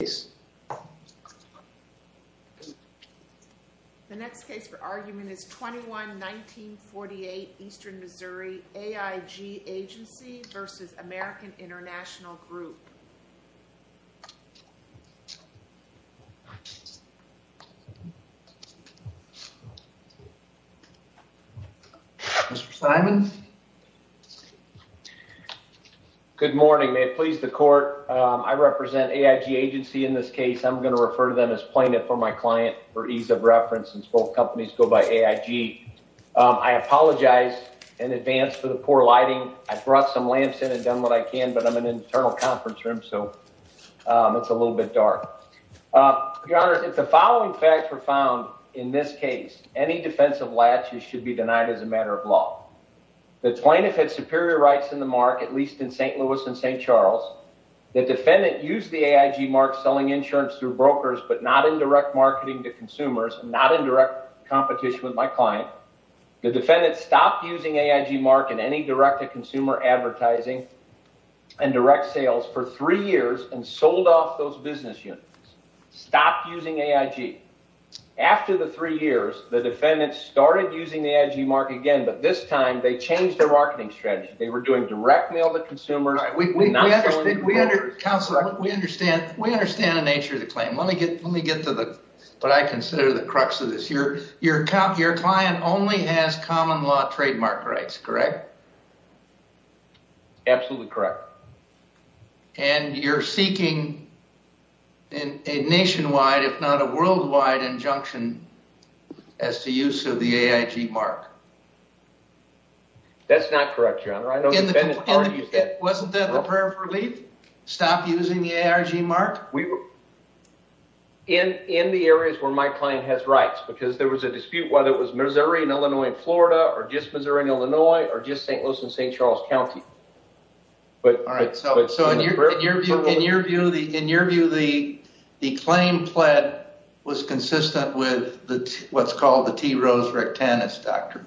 The next case for argument is 21-1948 Eastern Missouri A.I.G. Agency v. American International Group. Mr. Simon? Good morning. May it please the court, I represent A.I.G. Agency in this case. I'm going to refer to them as plaintiff for my client for ease of reference since both companies go by A.I.G. I apologize in advance for the poor lighting. I brought some lamps in and done what I can, but I'm an internal conference room, so it's a little bit dark. Your Honor, if the following facts were found in this case, any defense of latches should be denied as a matter of law. The plaintiff had superior rights in the mark, at least in St. Louis and St. Charles. The defendant used the A.I.G. mark selling insurance through brokers, but not in direct marketing to consumers, not in direct competition with my client. The defendant stopped using A.I.G. mark in any direct-to-consumer advertising and direct-sale sales for three years and sold off those business units. Stopped using A.I.G. After the three years, the defendant started using the A.I.G. mark again, but this time they changed their marketing strategy. They were doing direct mail to consumers. We understand the nature of the claim. Let me get to what I consider the crux of this. Your client only has common-law trademark rights, correct? Absolutely correct. And you're seeking a nationwide, if not a worldwide, injunction as to use of the A.I.G. mark? That's not correct, Your Honor. I know the defendant already said- Wasn't that the prayer of relief? Stop using the A.I.G. mark? In the areas where my client has rights, because there was a dispute whether it was Missouri and Illinois and Florida, or just Missouri and Illinois, or just St. Louis and St. Charles County. In your view, the claim pled was consistent with what's called the T. Rose Rectanus Doctrine?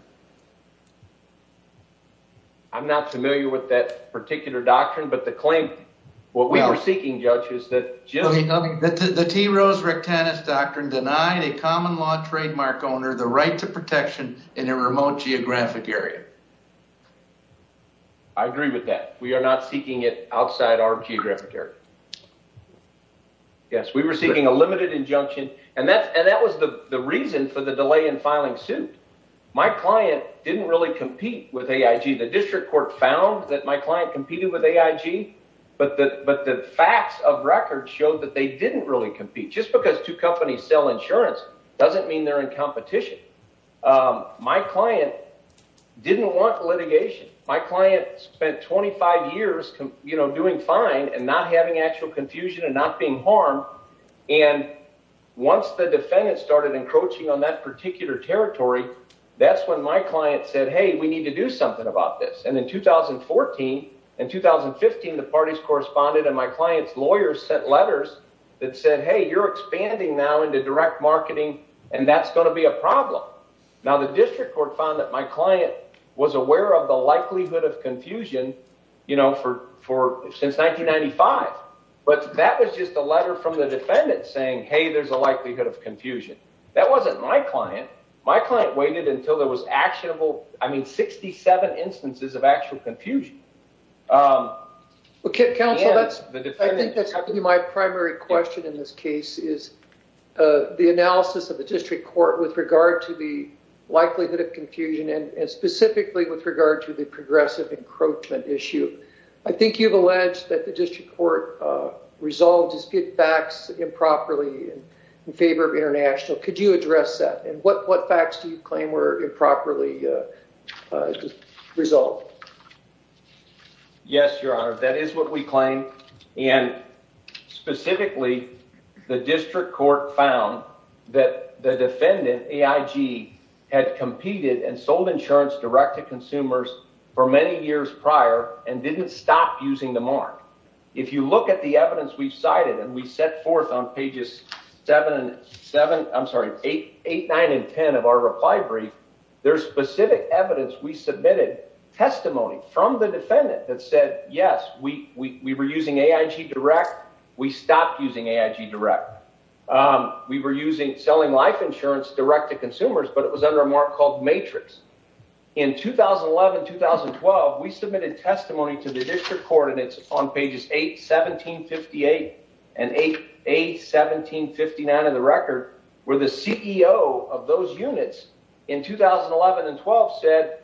I'm not familiar with that particular doctrine, but the claim, what we were seeking, Judge, is that just- The T. Rose Rectanus Doctrine denied a common-law trademark owner the right to protection in a remote geographic area. I agree with that. We are not seeking it outside our geographic area. Yes, we were seeking a limited injunction, and that was the reason for the delay in filing suit. My client didn't really compete with A.I.G. The district court found that my client competed with A.I.G., but the facts of record showed that they didn't really compete. Just because two companies sell insurance doesn't mean they're in competition. My client didn't want litigation. My client spent 25 years doing fine and not having actual confusion and not being harmed. Once the defendant started encroaching on that particular territory, that's when my client said, hey, we need to do something about this. In 2014 and 2015, the parties corresponded, and my client's lawyers sent letters that said, hey, you're expanding now into direct marketing, and that's going to be a problem. Now, the district court found that my client was aware of the likelihood of confusion since 1995, but that was just a letter from the defendant saying, hey, there's a likelihood of confusion. That wasn't my client. My client waited until there was actionable, I mean, 67 instances of actual confusion. Counsel, I think that's my primary question in this case is the analysis of the district court with regard to the likelihood of confusion and specifically with regard to the progressive encroachment issue. I think you've alleged that the district court resolved disputed facts improperly in favor of international. Could you address that, and what facts do you claim were improperly resolved? Yes, Your Honor, that is what we claim, and specifically, the district court found that the defendant, AIG, had competed and sold insurance direct to consumers for many years prior and didn't stop using the mark. If you look at the evidence we've cited and we set forth on pages 7 and 7, I'm sorry, 8, 9, and 10 of our reply brief, there's specific evidence we submitted testimony from the defendant that said, yes, we were using AIG direct. We stopped using AIG direct. We were selling life insurance direct to consumers, but it was under a mark called matrix. In 2011, 2012, we submitted testimony to the district court, and it's on pages 8, 17, 58, and 8, 17, 59 of the record, where the CEO of those units in 2011 and 12 said,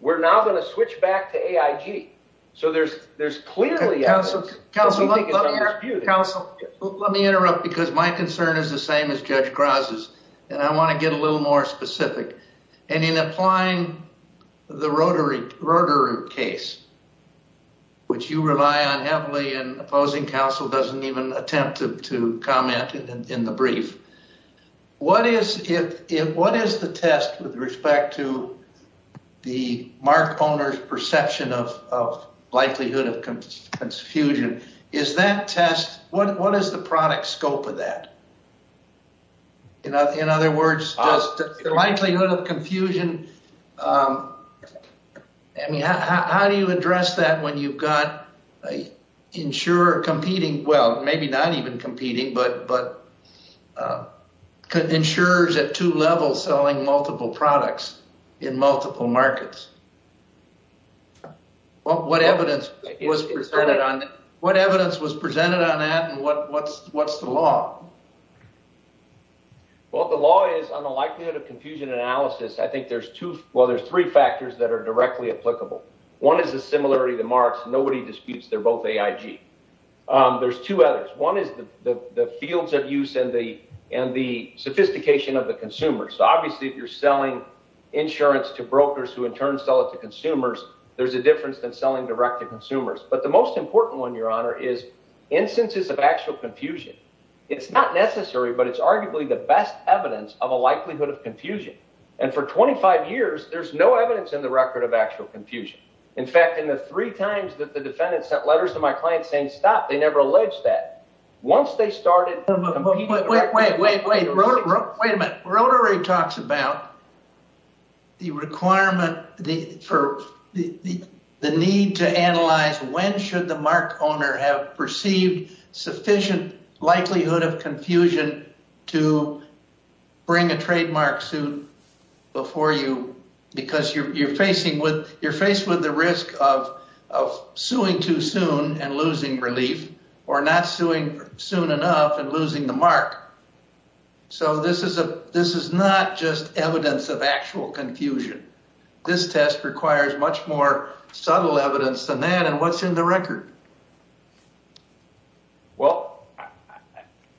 we're now going to switch back to AIG. Counsel, let me interrupt because my concern is the same as Judge Graza's, and I want to get a little more specific, and in applying the Rotary case, which you rely on heavily and opposing counsel doesn't even attempt to comment in the brief. What is the test with respect to the mark owner's perception of likelihood of confusion? Is that test, what is the product scope of that? In other words, the likelihood of confusion, how do you address that when you've got an insurer competing, well, maybe not even competing, but insurers at two levels selling multiple products in multiple markets? What evidence was presented on that, and what's the law? Well, the law is on the likelihood of confusion analysis, I think there's two, well, there's three factors that are directly applicable. One is the similarity of the marks. Nobody disputes they're both AIG. There's two others. One is the fields of use and the sophistication of the consumer. So obviously, if you're selling insurance to brokers who in turn sell it to consumers, there's a difference than selling direct to consumers. But the most important one, Your Honor, is instances of actual confusion. It's not necessary, but it's arguably the best evidence of a likelihood of confusion. And for 25 years, there's no evidence in the record of actual confusion. In fact, in the three times that the defendant sent letters to my client saying stop, they never alleged that. Wait, wait, wait, wait, wait a minute. Rotary talks about the requirement for the need to analyze when should the mark owner have perceived sufficient likelihood of confusion to bring a trademark suit before you? Because you're facing with you're faced with the risk of suing too soon and losing relief or not suing soon enough and losing the mark. So this is a this is not just evidence of actual confusion. This test requires much more subtle evidence than that. And what's in the record? Well,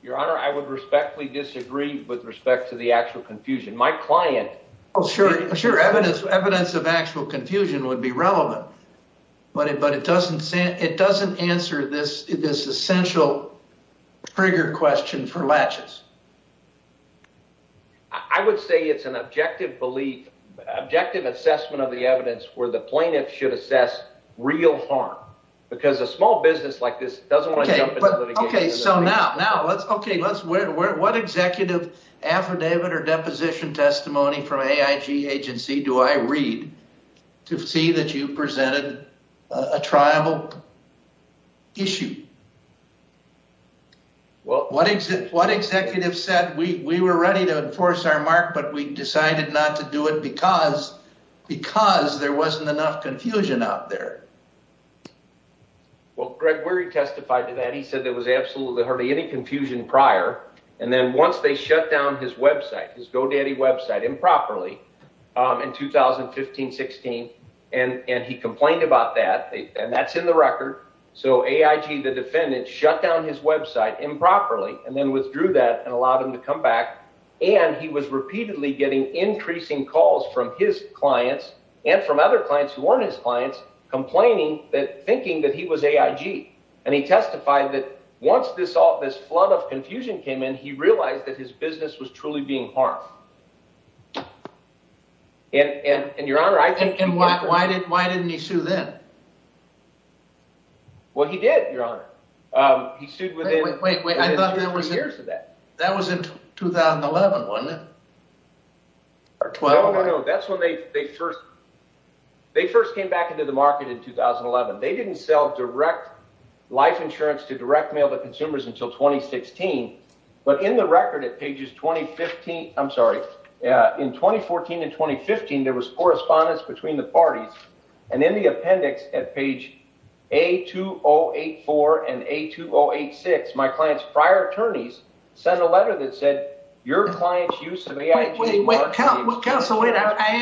Your Honor, I would respectfully disagree with respect to the actual confusion. My client. Oh, sure. Sure. Evidence, evidence of actual confusion would be relevant. But it but it doesn't say it doesn't answer this. This essential trigger question for latches. I would say it's an objective belief, objective assessment of the evidence where the plaintiff should assess real harm because a small business like this doesn't want to. But OK, so now now let's OK, let's what executive affidavit or deposition testimony from a agency do I read to see that you presented a trial issue? Well, what is it? What executive said? We were ready to enforce our mark, but we decided not to do it because because there wasn't enough confusion out there. Well, Greg, where he testified to that, he said there was absolutely hardly any confusion prior. And then once they shut down his Web site, his GoDaddy Web site improperly in 2015, 16, and he complained about that. And that's in the record. So AIG, the defendant shut down his Web site improperly and then withdrew that and allowed him to come back. And he was repeatedly getting increasing calls from his clients and from other clients who weren't his clients complaining that thinking that he was AIG. And he testified that once this all this flood of confusion came in, he realized that his business was truly being harmed. And your honor, I think. And why did why didn't he sue them? Well, he did, your honor. He sued with it. Wait, wait, wait. I thought there was years of that. That was in 2011, wasn't it? No, no, no. That's when they first they first came back into the market in 2011. They didn't sell direct life insurance to direct mail to consumers until 2016. But in the record at pages 2015, I'm sorry, in 2014 and 2015, there was correspondence between the parties. And in the appendix at page a 2084 and a 2086, my client's prior attorneys sent a letter that said your client's use of AIG. I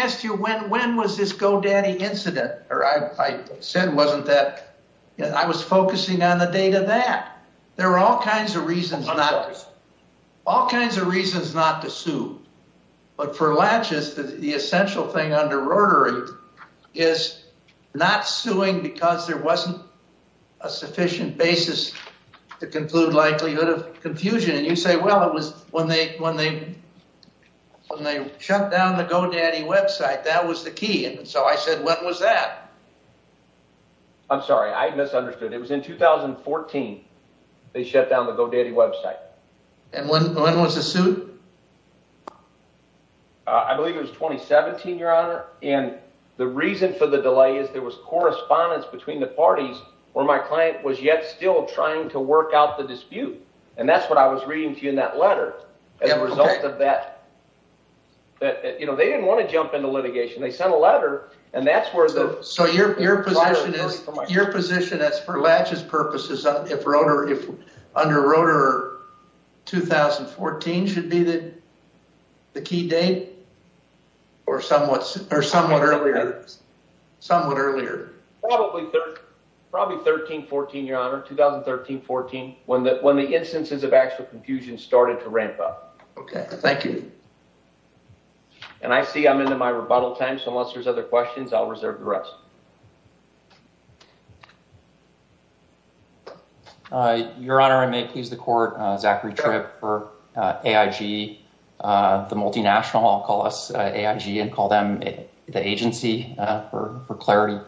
asked you when when was this GoDaddy incident or I said wasn't that I was focusing on the date of that. There are all kinds of reasons, not all kinds of reasons not to sue. But for latches, the essential thing under Rotary is not suing because there wasn't a sufficient basis to conclude likelihood of confusion. And you say, well, it was when they when they when they shut down the GoDaddy website. That was the key. And so I said, what was that? I'm sorry, I misunderstood. It was in 2014. They shut down the GoDaddy website. And when was the suit? I believe it was 2017, your honor. And the reason for the delay is there was correspondence between the parties where my client was yet still trying to work out the dispute. And that's what I was reading to you in that letter. As a result of that, you know, they didn't want to jump into litigation. They sent a letter and that's where the. So your your position is your position as for latches purposes, if Rotary if under Rotary 2014 should be the the key date or somewhat or somewhat earlier, somewhat earlier. Probably probably 13, 14, your honor, 2013, 14, when that when the instances of actual confusion started to ramp up. OK, thank you. And I see I'm into my rebuttal time. So unless there's other questions, I'll reserve the rest. Your honor, I may please the court. Zachary Tripp for AIG, the multinational, I'll call us AIG and call them the agency for clarity.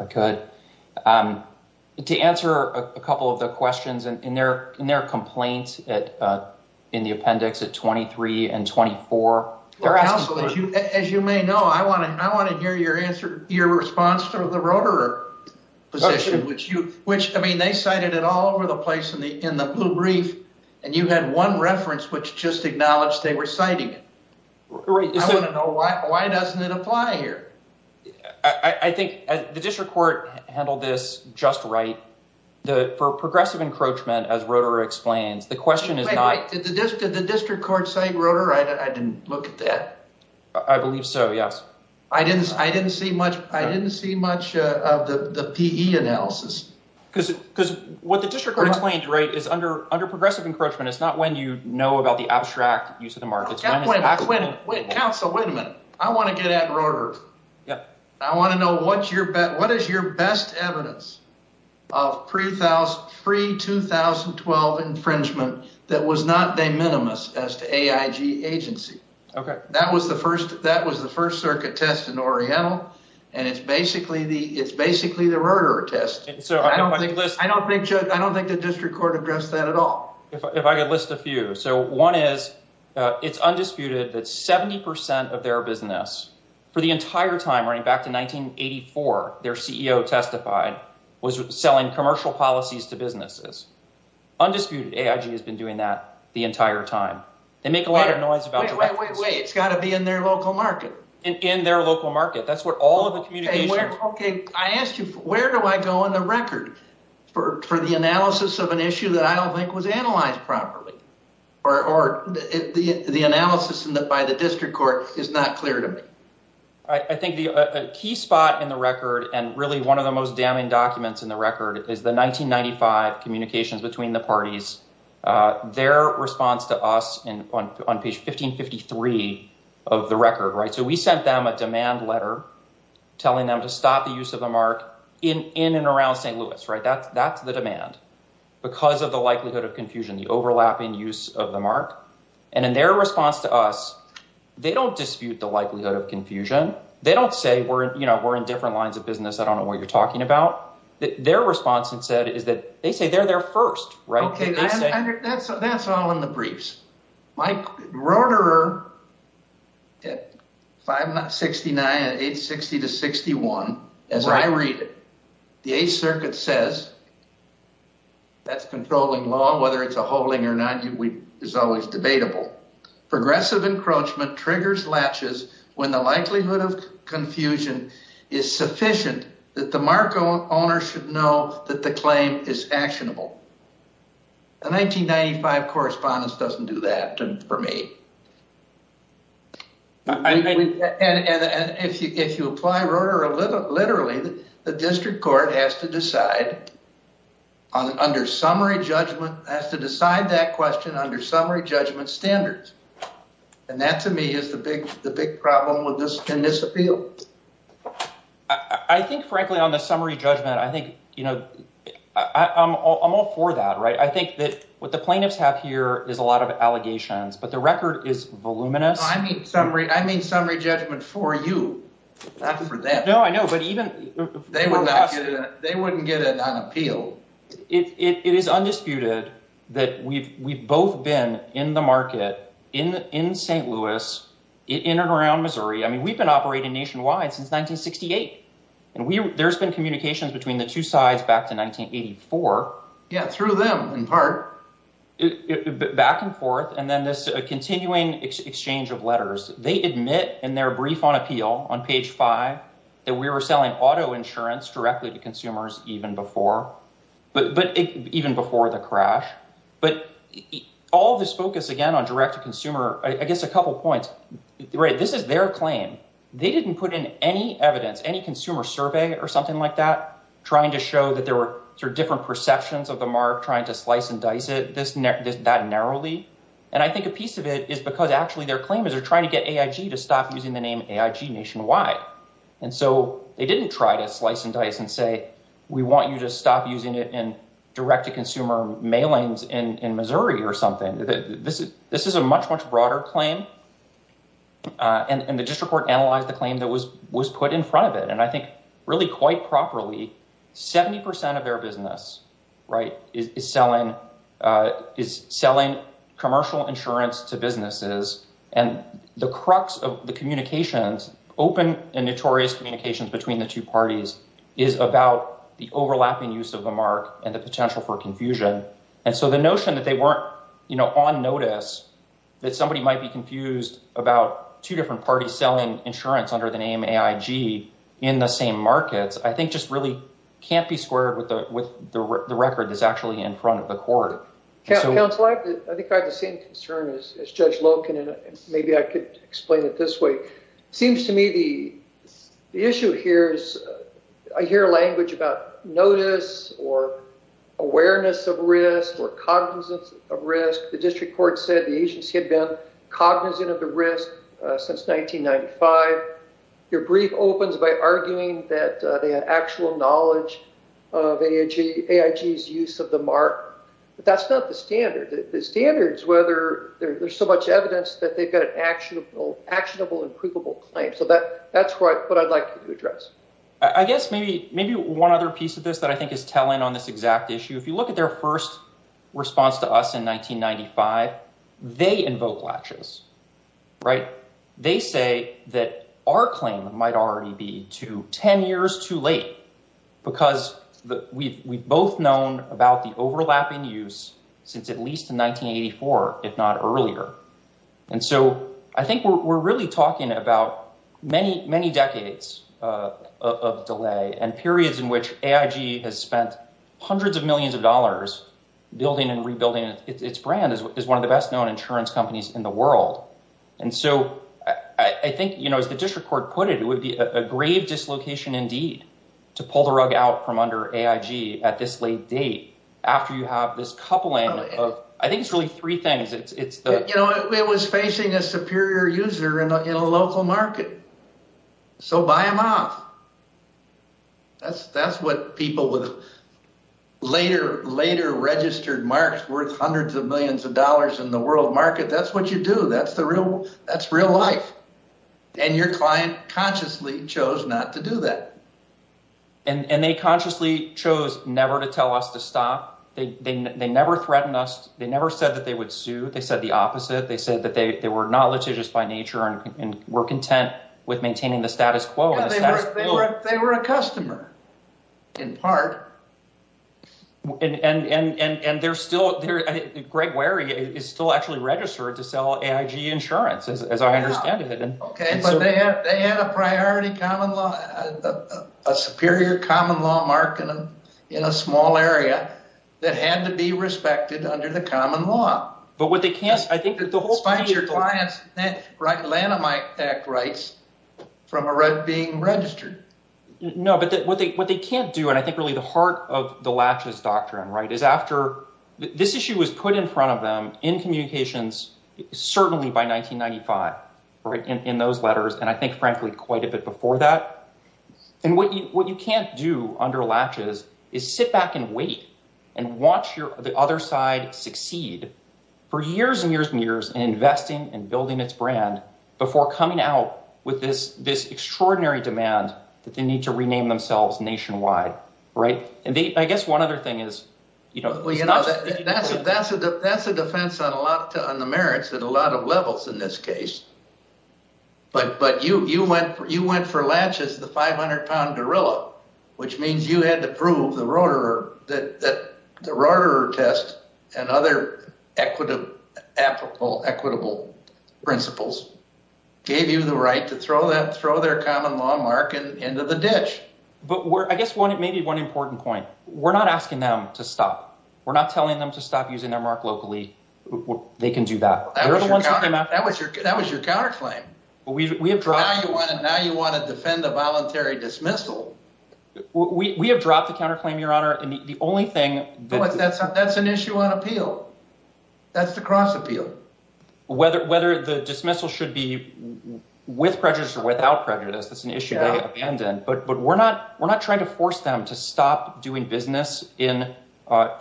To answer a couple of the questions in their in their complaints in the appendix at twenty three and twenty four. As you may know, I want to I want to hear your answer, your response to the Rotary position, which you which I mean, they cited it all over the place in the in the brief. And you had one reference which just acknowledged they were citing it. Why doesn't it apply here? I think the district court handled this just right. The progressive encroachment, as Rotary explains, the question is not the district. Did the district court say Rotary? I didn't look at that. I believe so. Yes. I didn't I didn't see much. I didn't see much of the analysis because because what the district court explained is under under progressive encroachment. It's not when you know about the abstract use of the markets. Council, wait a minute. I want to get at Rotary. Yeah, I want to know what's your bet. What is your best evidence of 3000 free 2012 infringement that was not de minimis as to AIG agency? OK, that was the first that was the first circuit test in Oriental. And it's basically the it's basically the Rotary test. So I don't think I don't think I don't think the district court addressed that at all. If I could list a few. So one is it's undisputed that 70 percent of their business for the entire time running back to 1984, their CEO testified was selling commercial policies to businesses. Undisputed AIG has been doing that the entire time. They make a lot of noise about it. It's got to be in their local market and in their local market. OK, I asked you, where do I go on the record for the analysis of an issue that I don't think was analyzed properly or the analysis by the district court is not clear to me. I think the key spot in the record and really one of the most damning documents in the record is the 1995 communications between the parties. Their response to us on page 1553 of the record. Right. So we sent them a demand letter telling them to stop the use of the mark in in and around St. Louis. Right. That's that's the demand because of the likelihood of confusion, the overlapping use of the mark. And in their response to us, they don't dispute the likelihood of confusion. They don't say, you know, we're in different lines of business. I don't know what you're talking about. Their response instead is that they say they're there first. Right. That's all in the briefs. Mike Rotor at five, not sixty nine, eight, sixty to sixty one. As I read it, the Eighth Circuit says. That's controlling law, whether it's a holding or not, is always debatable. Progressive encroachment triggers latches when the likelihood of confusion is sufficient that the market owner should know that the claim is actionable. The 1995 correspondence doesn't do that for me. And if you if you apply Rotor literally, the district court has to decide on under summary judgment, has to decide that question under summary judgment standards. And that to me is the big the big problem with this. Can this appeal? I think, frankly, on the summary judgment, I think, you know, I'm all for that. Right. I think that what the plaintiffs have here is a lot of allegations. But the record is voluminous. I mean, summary. I mean, summary judgment for you, not for them. No, I know. But even they wouldn't they wouldn't get it on appeal. It is undisputed that we've we've both been in the market in in St. Louis in and around Missouri. I mean, we've been operating nationwide since 1968. And there's been communications between the two sides back to 1984. Yeah. Through them in part. Back and forth. And then this continuing exchange of letters. They admit in their brief on appeal on page five that we were selling auto insurance directly to consumers even before. But even before the crash. But all this focus, again, on direct to consumer. I guess a couple of points. This is their claim. They didn't put in any evidence, any consumer survey or something like that. Trying to show that there were different perceptions of the mark, trying to slice and dice it. This is not narrowly. And I think a piece of it is because actually their claim is they're trying to get to stop using the name nationwide. And so they didn't try to slice and dice and say, we want you to stop using it in direct to consumer mailings in Missouri or something. This is this is a much, much broader claim. And the district court analyzed the claim that was was put in front of it. And I think really quite properly, 70 percent of their business, right, is selling is selling commercial insurance to businesses. And the crux of the communications, open and notorious communications between the two parties is about the overlapping use of the mark and the potential for confusion. And so the notion that they weren't on notice, that somebody might be confused about two different parties selling insurance under the name AIG in the same markets, I think just really can't be squared with the record is actually in front of the court. I think I have the same concern as Judge Loken, and maybe I could explain it this way. Seems to me the issue here is I hear language about notice or awareness of risk or cognizance of risk. The district court said the agency had been cognizant of the risk since 1995. Your brief opens by arguing that they have actual knowledge of AIG's use of the mark. But that's not the standard. The standard is whether there's so much evidence that they've got an actionable, actionable and provable claim. So that that's what I'd like to address. I guess maybe maybe one other piece of this that I think is telling on this exact issue. If you look at their first response to us in 1995, they invoke latches. Right. They say that our claim might already be to 10 years too late because we've both known about the overlapping use since at least 1984, if not earlier. And so I think we're really talking about many, many decades of delay and periods in which AIG has spent hundreds of millions of dollars building and rebuilding its brand is one of the best known insurance companies in the world. And so I think, you know, as the district court put it, it would be a grave dislocation indeed to pull the rug out from under AIG at this late date after you have this coupling. I think it's really three things. You know, it was facing a superior user in a local market. So buy them off. That's that's what people with later, later registered marks worth hundreds of millions of dollars in the world market. That's what you do. That's the real that's real life. And your client consciously chose not to do that. And they consciously chose never to tell us to stop. They never threatened us. They never said that they would sue. They said the opposite. They said that they were not litigious by nature and were content with maintaining the status quo. They were a customer in part. And they're still there. Greg Wary is still actually registered to sell AIG insurance, as I understand it. OK, but they have a priority common law, a superior common law market in a small area that had to be respected under the common law. But what they can't, I think, is that the whole thing is your client's right. Lanham Act rights from a red being registered. No, but what they what they can't do, and I think really the heart of the latches doctrine, right, is after this issue was put in front of them in communications, certainly by 1995. Right. In those letters. And I think, frankly, quite a bit before that. And what you what you can't do under latches is sit back and wait and watch the other side succeed for years and years and years and investing and building its brand before coming out with this this extraordinary demand that they need to rename themselves nationwide. Right. And I guess one other thing is, you know. Well, you know, that's a that's a that's a defense on a lot on the merits that a lot of levels in this case. But but you you went you went for latches, the 500 pound gorilla, which means you had to prove the rotor that the rotor test and other equitable, equitable principles gave you the right to throw that throw their common law market into the ditch. But where I guess what it may be one important point, we're not asking them to stop. We're not telling them to stop using their mark locally. They can do that. That was your that was your counterclaim. We have drawn. Now you want to defend the voluntary dismissal. We have dropped the counterclaim, Your Honor. And the only thing that's that's an issue on appeal. That's the cross appeal. Whether whether the dismissal should be with prejudice or without prejudice. That's an issue. But but we're not we're not trying to force them to stop doing business in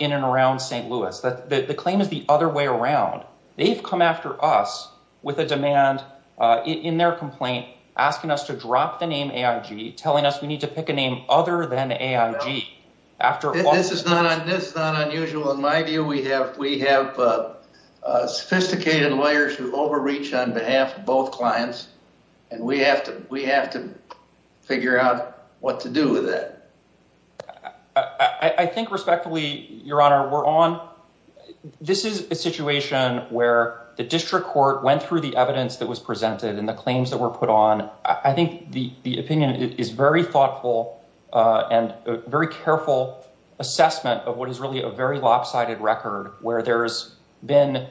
in and around St. Louis. The claim is the other way around. They've come after us with a demand in their complaint, asking us to drop the name telling us we need to pick a name other than after. This is not this is not unusual. In my view, we have we have sophisticated lawyers who overreach on behalf of both clients. And we have to we have to figure out what to do with that. I think respectfully, Your Honor, we're on. This is a situation where the district court went through the evidence that was presented and the claims that were put on. I think the opinion is very thoughtful and very careful assessment of what is really a very lopsided record where there's been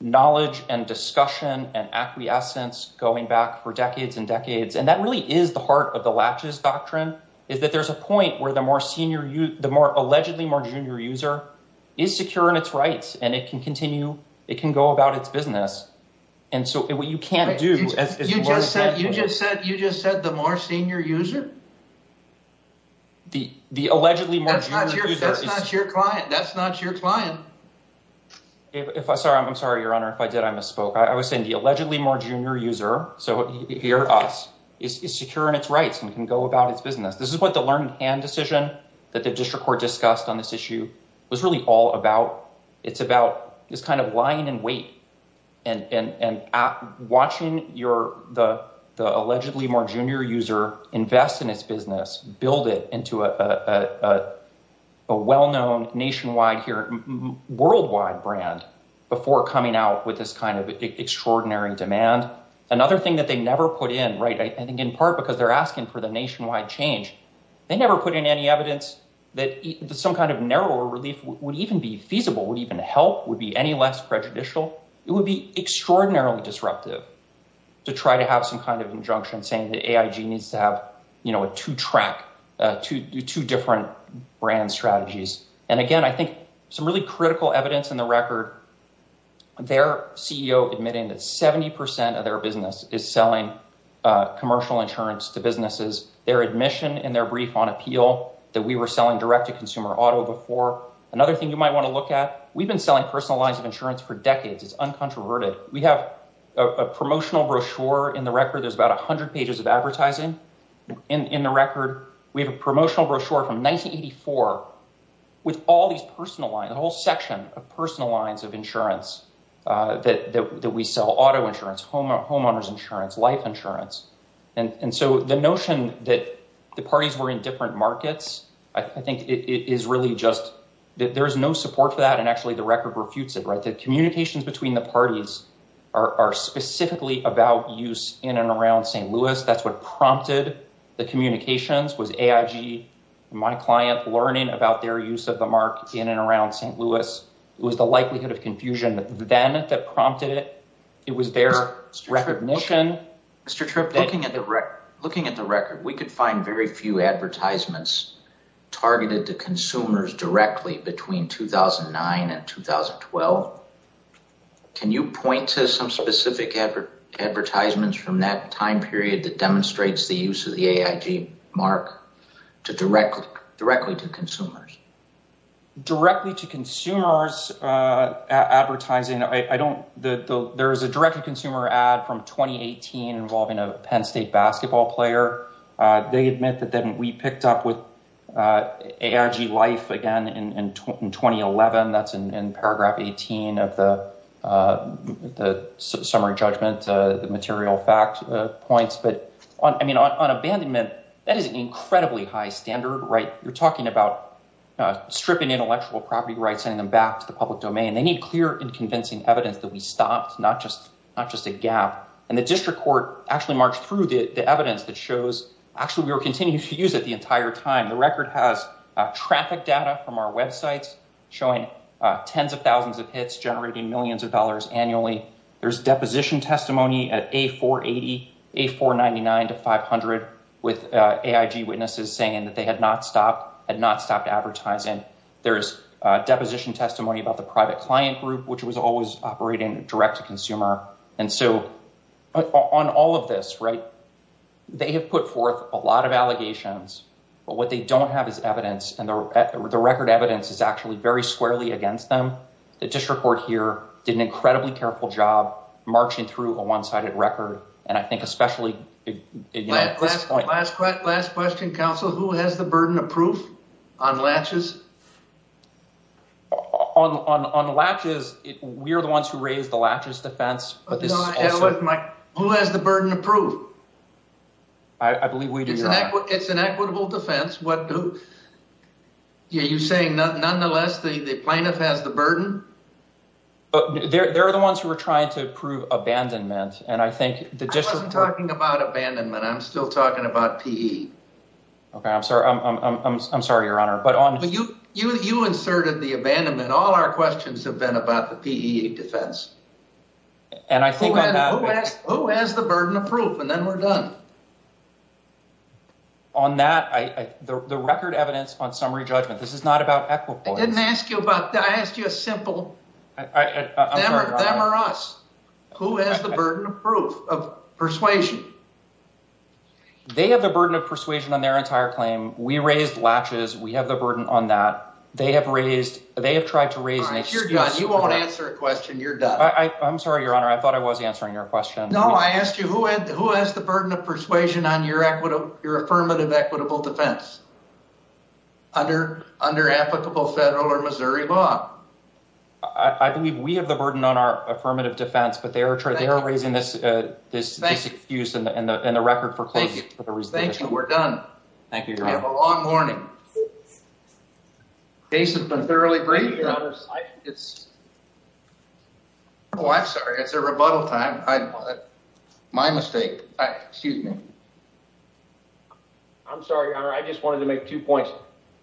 knowledge and discussion and acquiescence going back for decades and decades. And that really is the heart of the latches doctrine is that there's a point where the more senior, the more allegedly more junior user is secure in its rights and it can continue. It can go about its business. And so what you can't do, as you just said, you just said you just said the more senior user. The the allegedly that's not your client. That's not your client. If I'm sorry, I'm sorry, Your Honor. If I did, I misspoke. I was saying the allegedly more junior user. So here is secure in its rights and we can go about its business. This is what the learned hand decision that the district court discussed on this issue was really all about. It's about this kind of lying in wait and watching your the allegedly more junior user invest in its business, build it into a well-known nationwide here worldwide brand before coming out with this kind of extraordinary demand. Another thing that they never put in. Right. I think in part because they're asking for the nationwide change. They never put in any evidence that some kind of narrow relief would even be feasible, would even help, would be any less prejudicial. It would be extraordinarily disruptive to try to have some kind of injunction saying that needs to have a two track to do two different brand strategies. And again, I think some really critical evidence in the record, their CEO admitting that 70% of their business is selling commercial insurance to businesses. Their admission in their brief on appeal that we were selling direct to consumer auto before. Another thing you might want to look at. We've been selling personalized insurance for decades. It's uncontroverted. We have a promotional brochure in the record. There's about 100 pages of advertising in the record. We have a promotional brochure from 1984 with all these personal lines, a whole section of personal lines of insurance that we sell auto insurance, homeowners insurance, life insurance. And so the notion that the parties were in different markets, I think it is really just that there is no support for that. And actually, the record refutes it. Right. The communications between the parties are specifically about use in and around St. Louis. That's what prompted the communications was AIG, my client, learning about their use of the mark in and around St. Louis. It was the likelihood of confusion then that prompted it. It was their recognition. Mr. Tripp, looking at the record, we could find very few advertisements targeted to consumers directly between 2009 and 2012. Can you point to some specific advertisements from that time period that demonstrates the use of the AIG mark to directly directly to consumers? Directly to consumers advertising. I don't. There is a direct consumer ad from 2018 involving a Penn State basketball player. They admit that we picked up with AIG life again in 2011. That's in paragraph 18 of the summary judgment, the material facts points. But I mean, on abandonment, that is an incredibly high standard. Right. You're talking about stripping intellectual property rights, sending them back to the public domain. They need clear and convincing evidence that we stopped, not just not just a gap. And the district court actually marched through the evidence that shows. Actually, we were continuing to use it the entire time. The record has traffic data from our websites showing tens of thousands of hits generating millions of dollars annually. There's deposition testimony at a 480, a 499 to 500 with AIG witnesses saying that they had not stopped and not stopped advertising. There's deposition testimony about the private client group, which was always operating direct to consumer. And so on all of this, right, they have put forth a lot of allegations. But what they don't have is evidence. And the record evidence is actually very squarely against them. The district court here did an incredibly careful job marching through a one sided record. And I think especially at this point. Last question, counsel, who has the burden of proof on latches? On on on latches, we are the ones who raise the latches defense. But this is my who has the burden of proof. I believe we do. It's an equitable defense. What do you say? Nonetheless, the plaintiff has the burden. But there are the ones who are trying to prove abandonment. And I think the district talking about abandonment. OK, I'm sorry. I'm sorry, Your Honor. But on you, you inserted the abandonment. All our questions have been about the defense. And I think who has the burden of proof? And then we're done. On that, the record evidence on summary judgment. This is not about equity. I didn't ask you about that. I asked you a simple. I remember us. Who has the burden of proof of persuasion? They have the burden of persuasion on their entire claim. We raised latches. We have the burden on that. They have raised. They have tried to raise an excuse. You won't answer a question. You're done. I'm sorry, Your Honor. I thought I was answering your question. No, I asked you who had who has the burden of persuasion on your equity, your affirmative, equitable defense. Under under applicable federal or Missouri law. I believe we have the burden on our affirmative defense. But they are trying. They are raising this. This excuse and the record for. Thank you. We're done. Thank you. We have a long morning. Jason has been thoroughly great. It's. Oh, I'm sorry. It's a rebuttal time. My mistake. Excuse me. I'm sorry, Your Honor. I just wanted to make two points.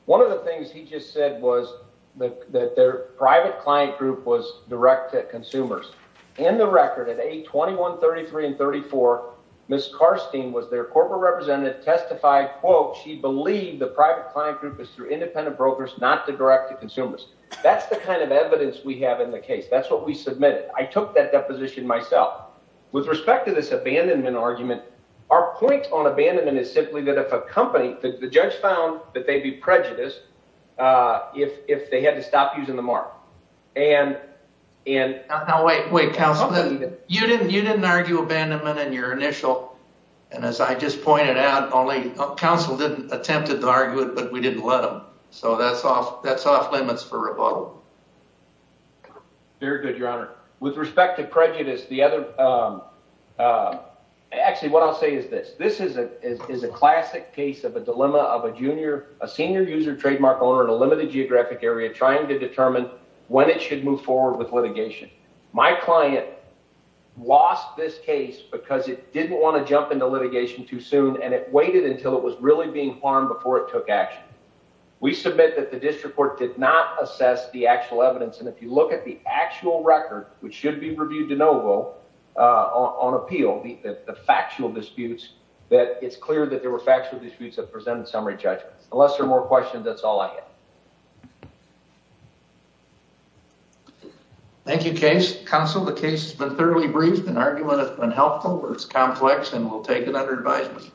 One of the things he just said was that their private client group was direct to consumers and the record at a twenty one thirty three and thirty four. Miss Carstein was their corporate representative testified quote she believed the private client group is through independent brokers, not the direct to consumers. That's the kind of evidence we have in the case. That's what we submitted. I took that deposition myself with respect to this abandonment argument. Our point on abandonment is simply that if a company that the judge found that they'd be prejudiced if if they had to stop using the mark and and. Oh, wait, wait, counsel. You didn't you didn't argue abandonment in your initial. And as I just pointed out, only counsel didn't attempted to argue it, but we didn't let him. So that's off. That's off limits for rebuttal. Very good, Your Honor. With respect to prejudice, the other actually what I'll say is this. This is a is a classic case of a dilemma of a junior, a senior user trademark owner in a limited geographic area trying to determine when it should move forward with litigation. My client lost this case because it didn't want to jump into litigation too soon, and it waited until it was really being harmed before it took action. We submit that the district court did not assess the actual evidence. And if you look at the actual record, which should be reviewed de novo on appeal, the factual disputes that it's clear that there were factual disputes that presented summary judgments unless there are more questions. That's all I have. Thank you, Counsel. The case has been thoroughly briefed and argument has been helpful. It's complex and we'll take it under advisement.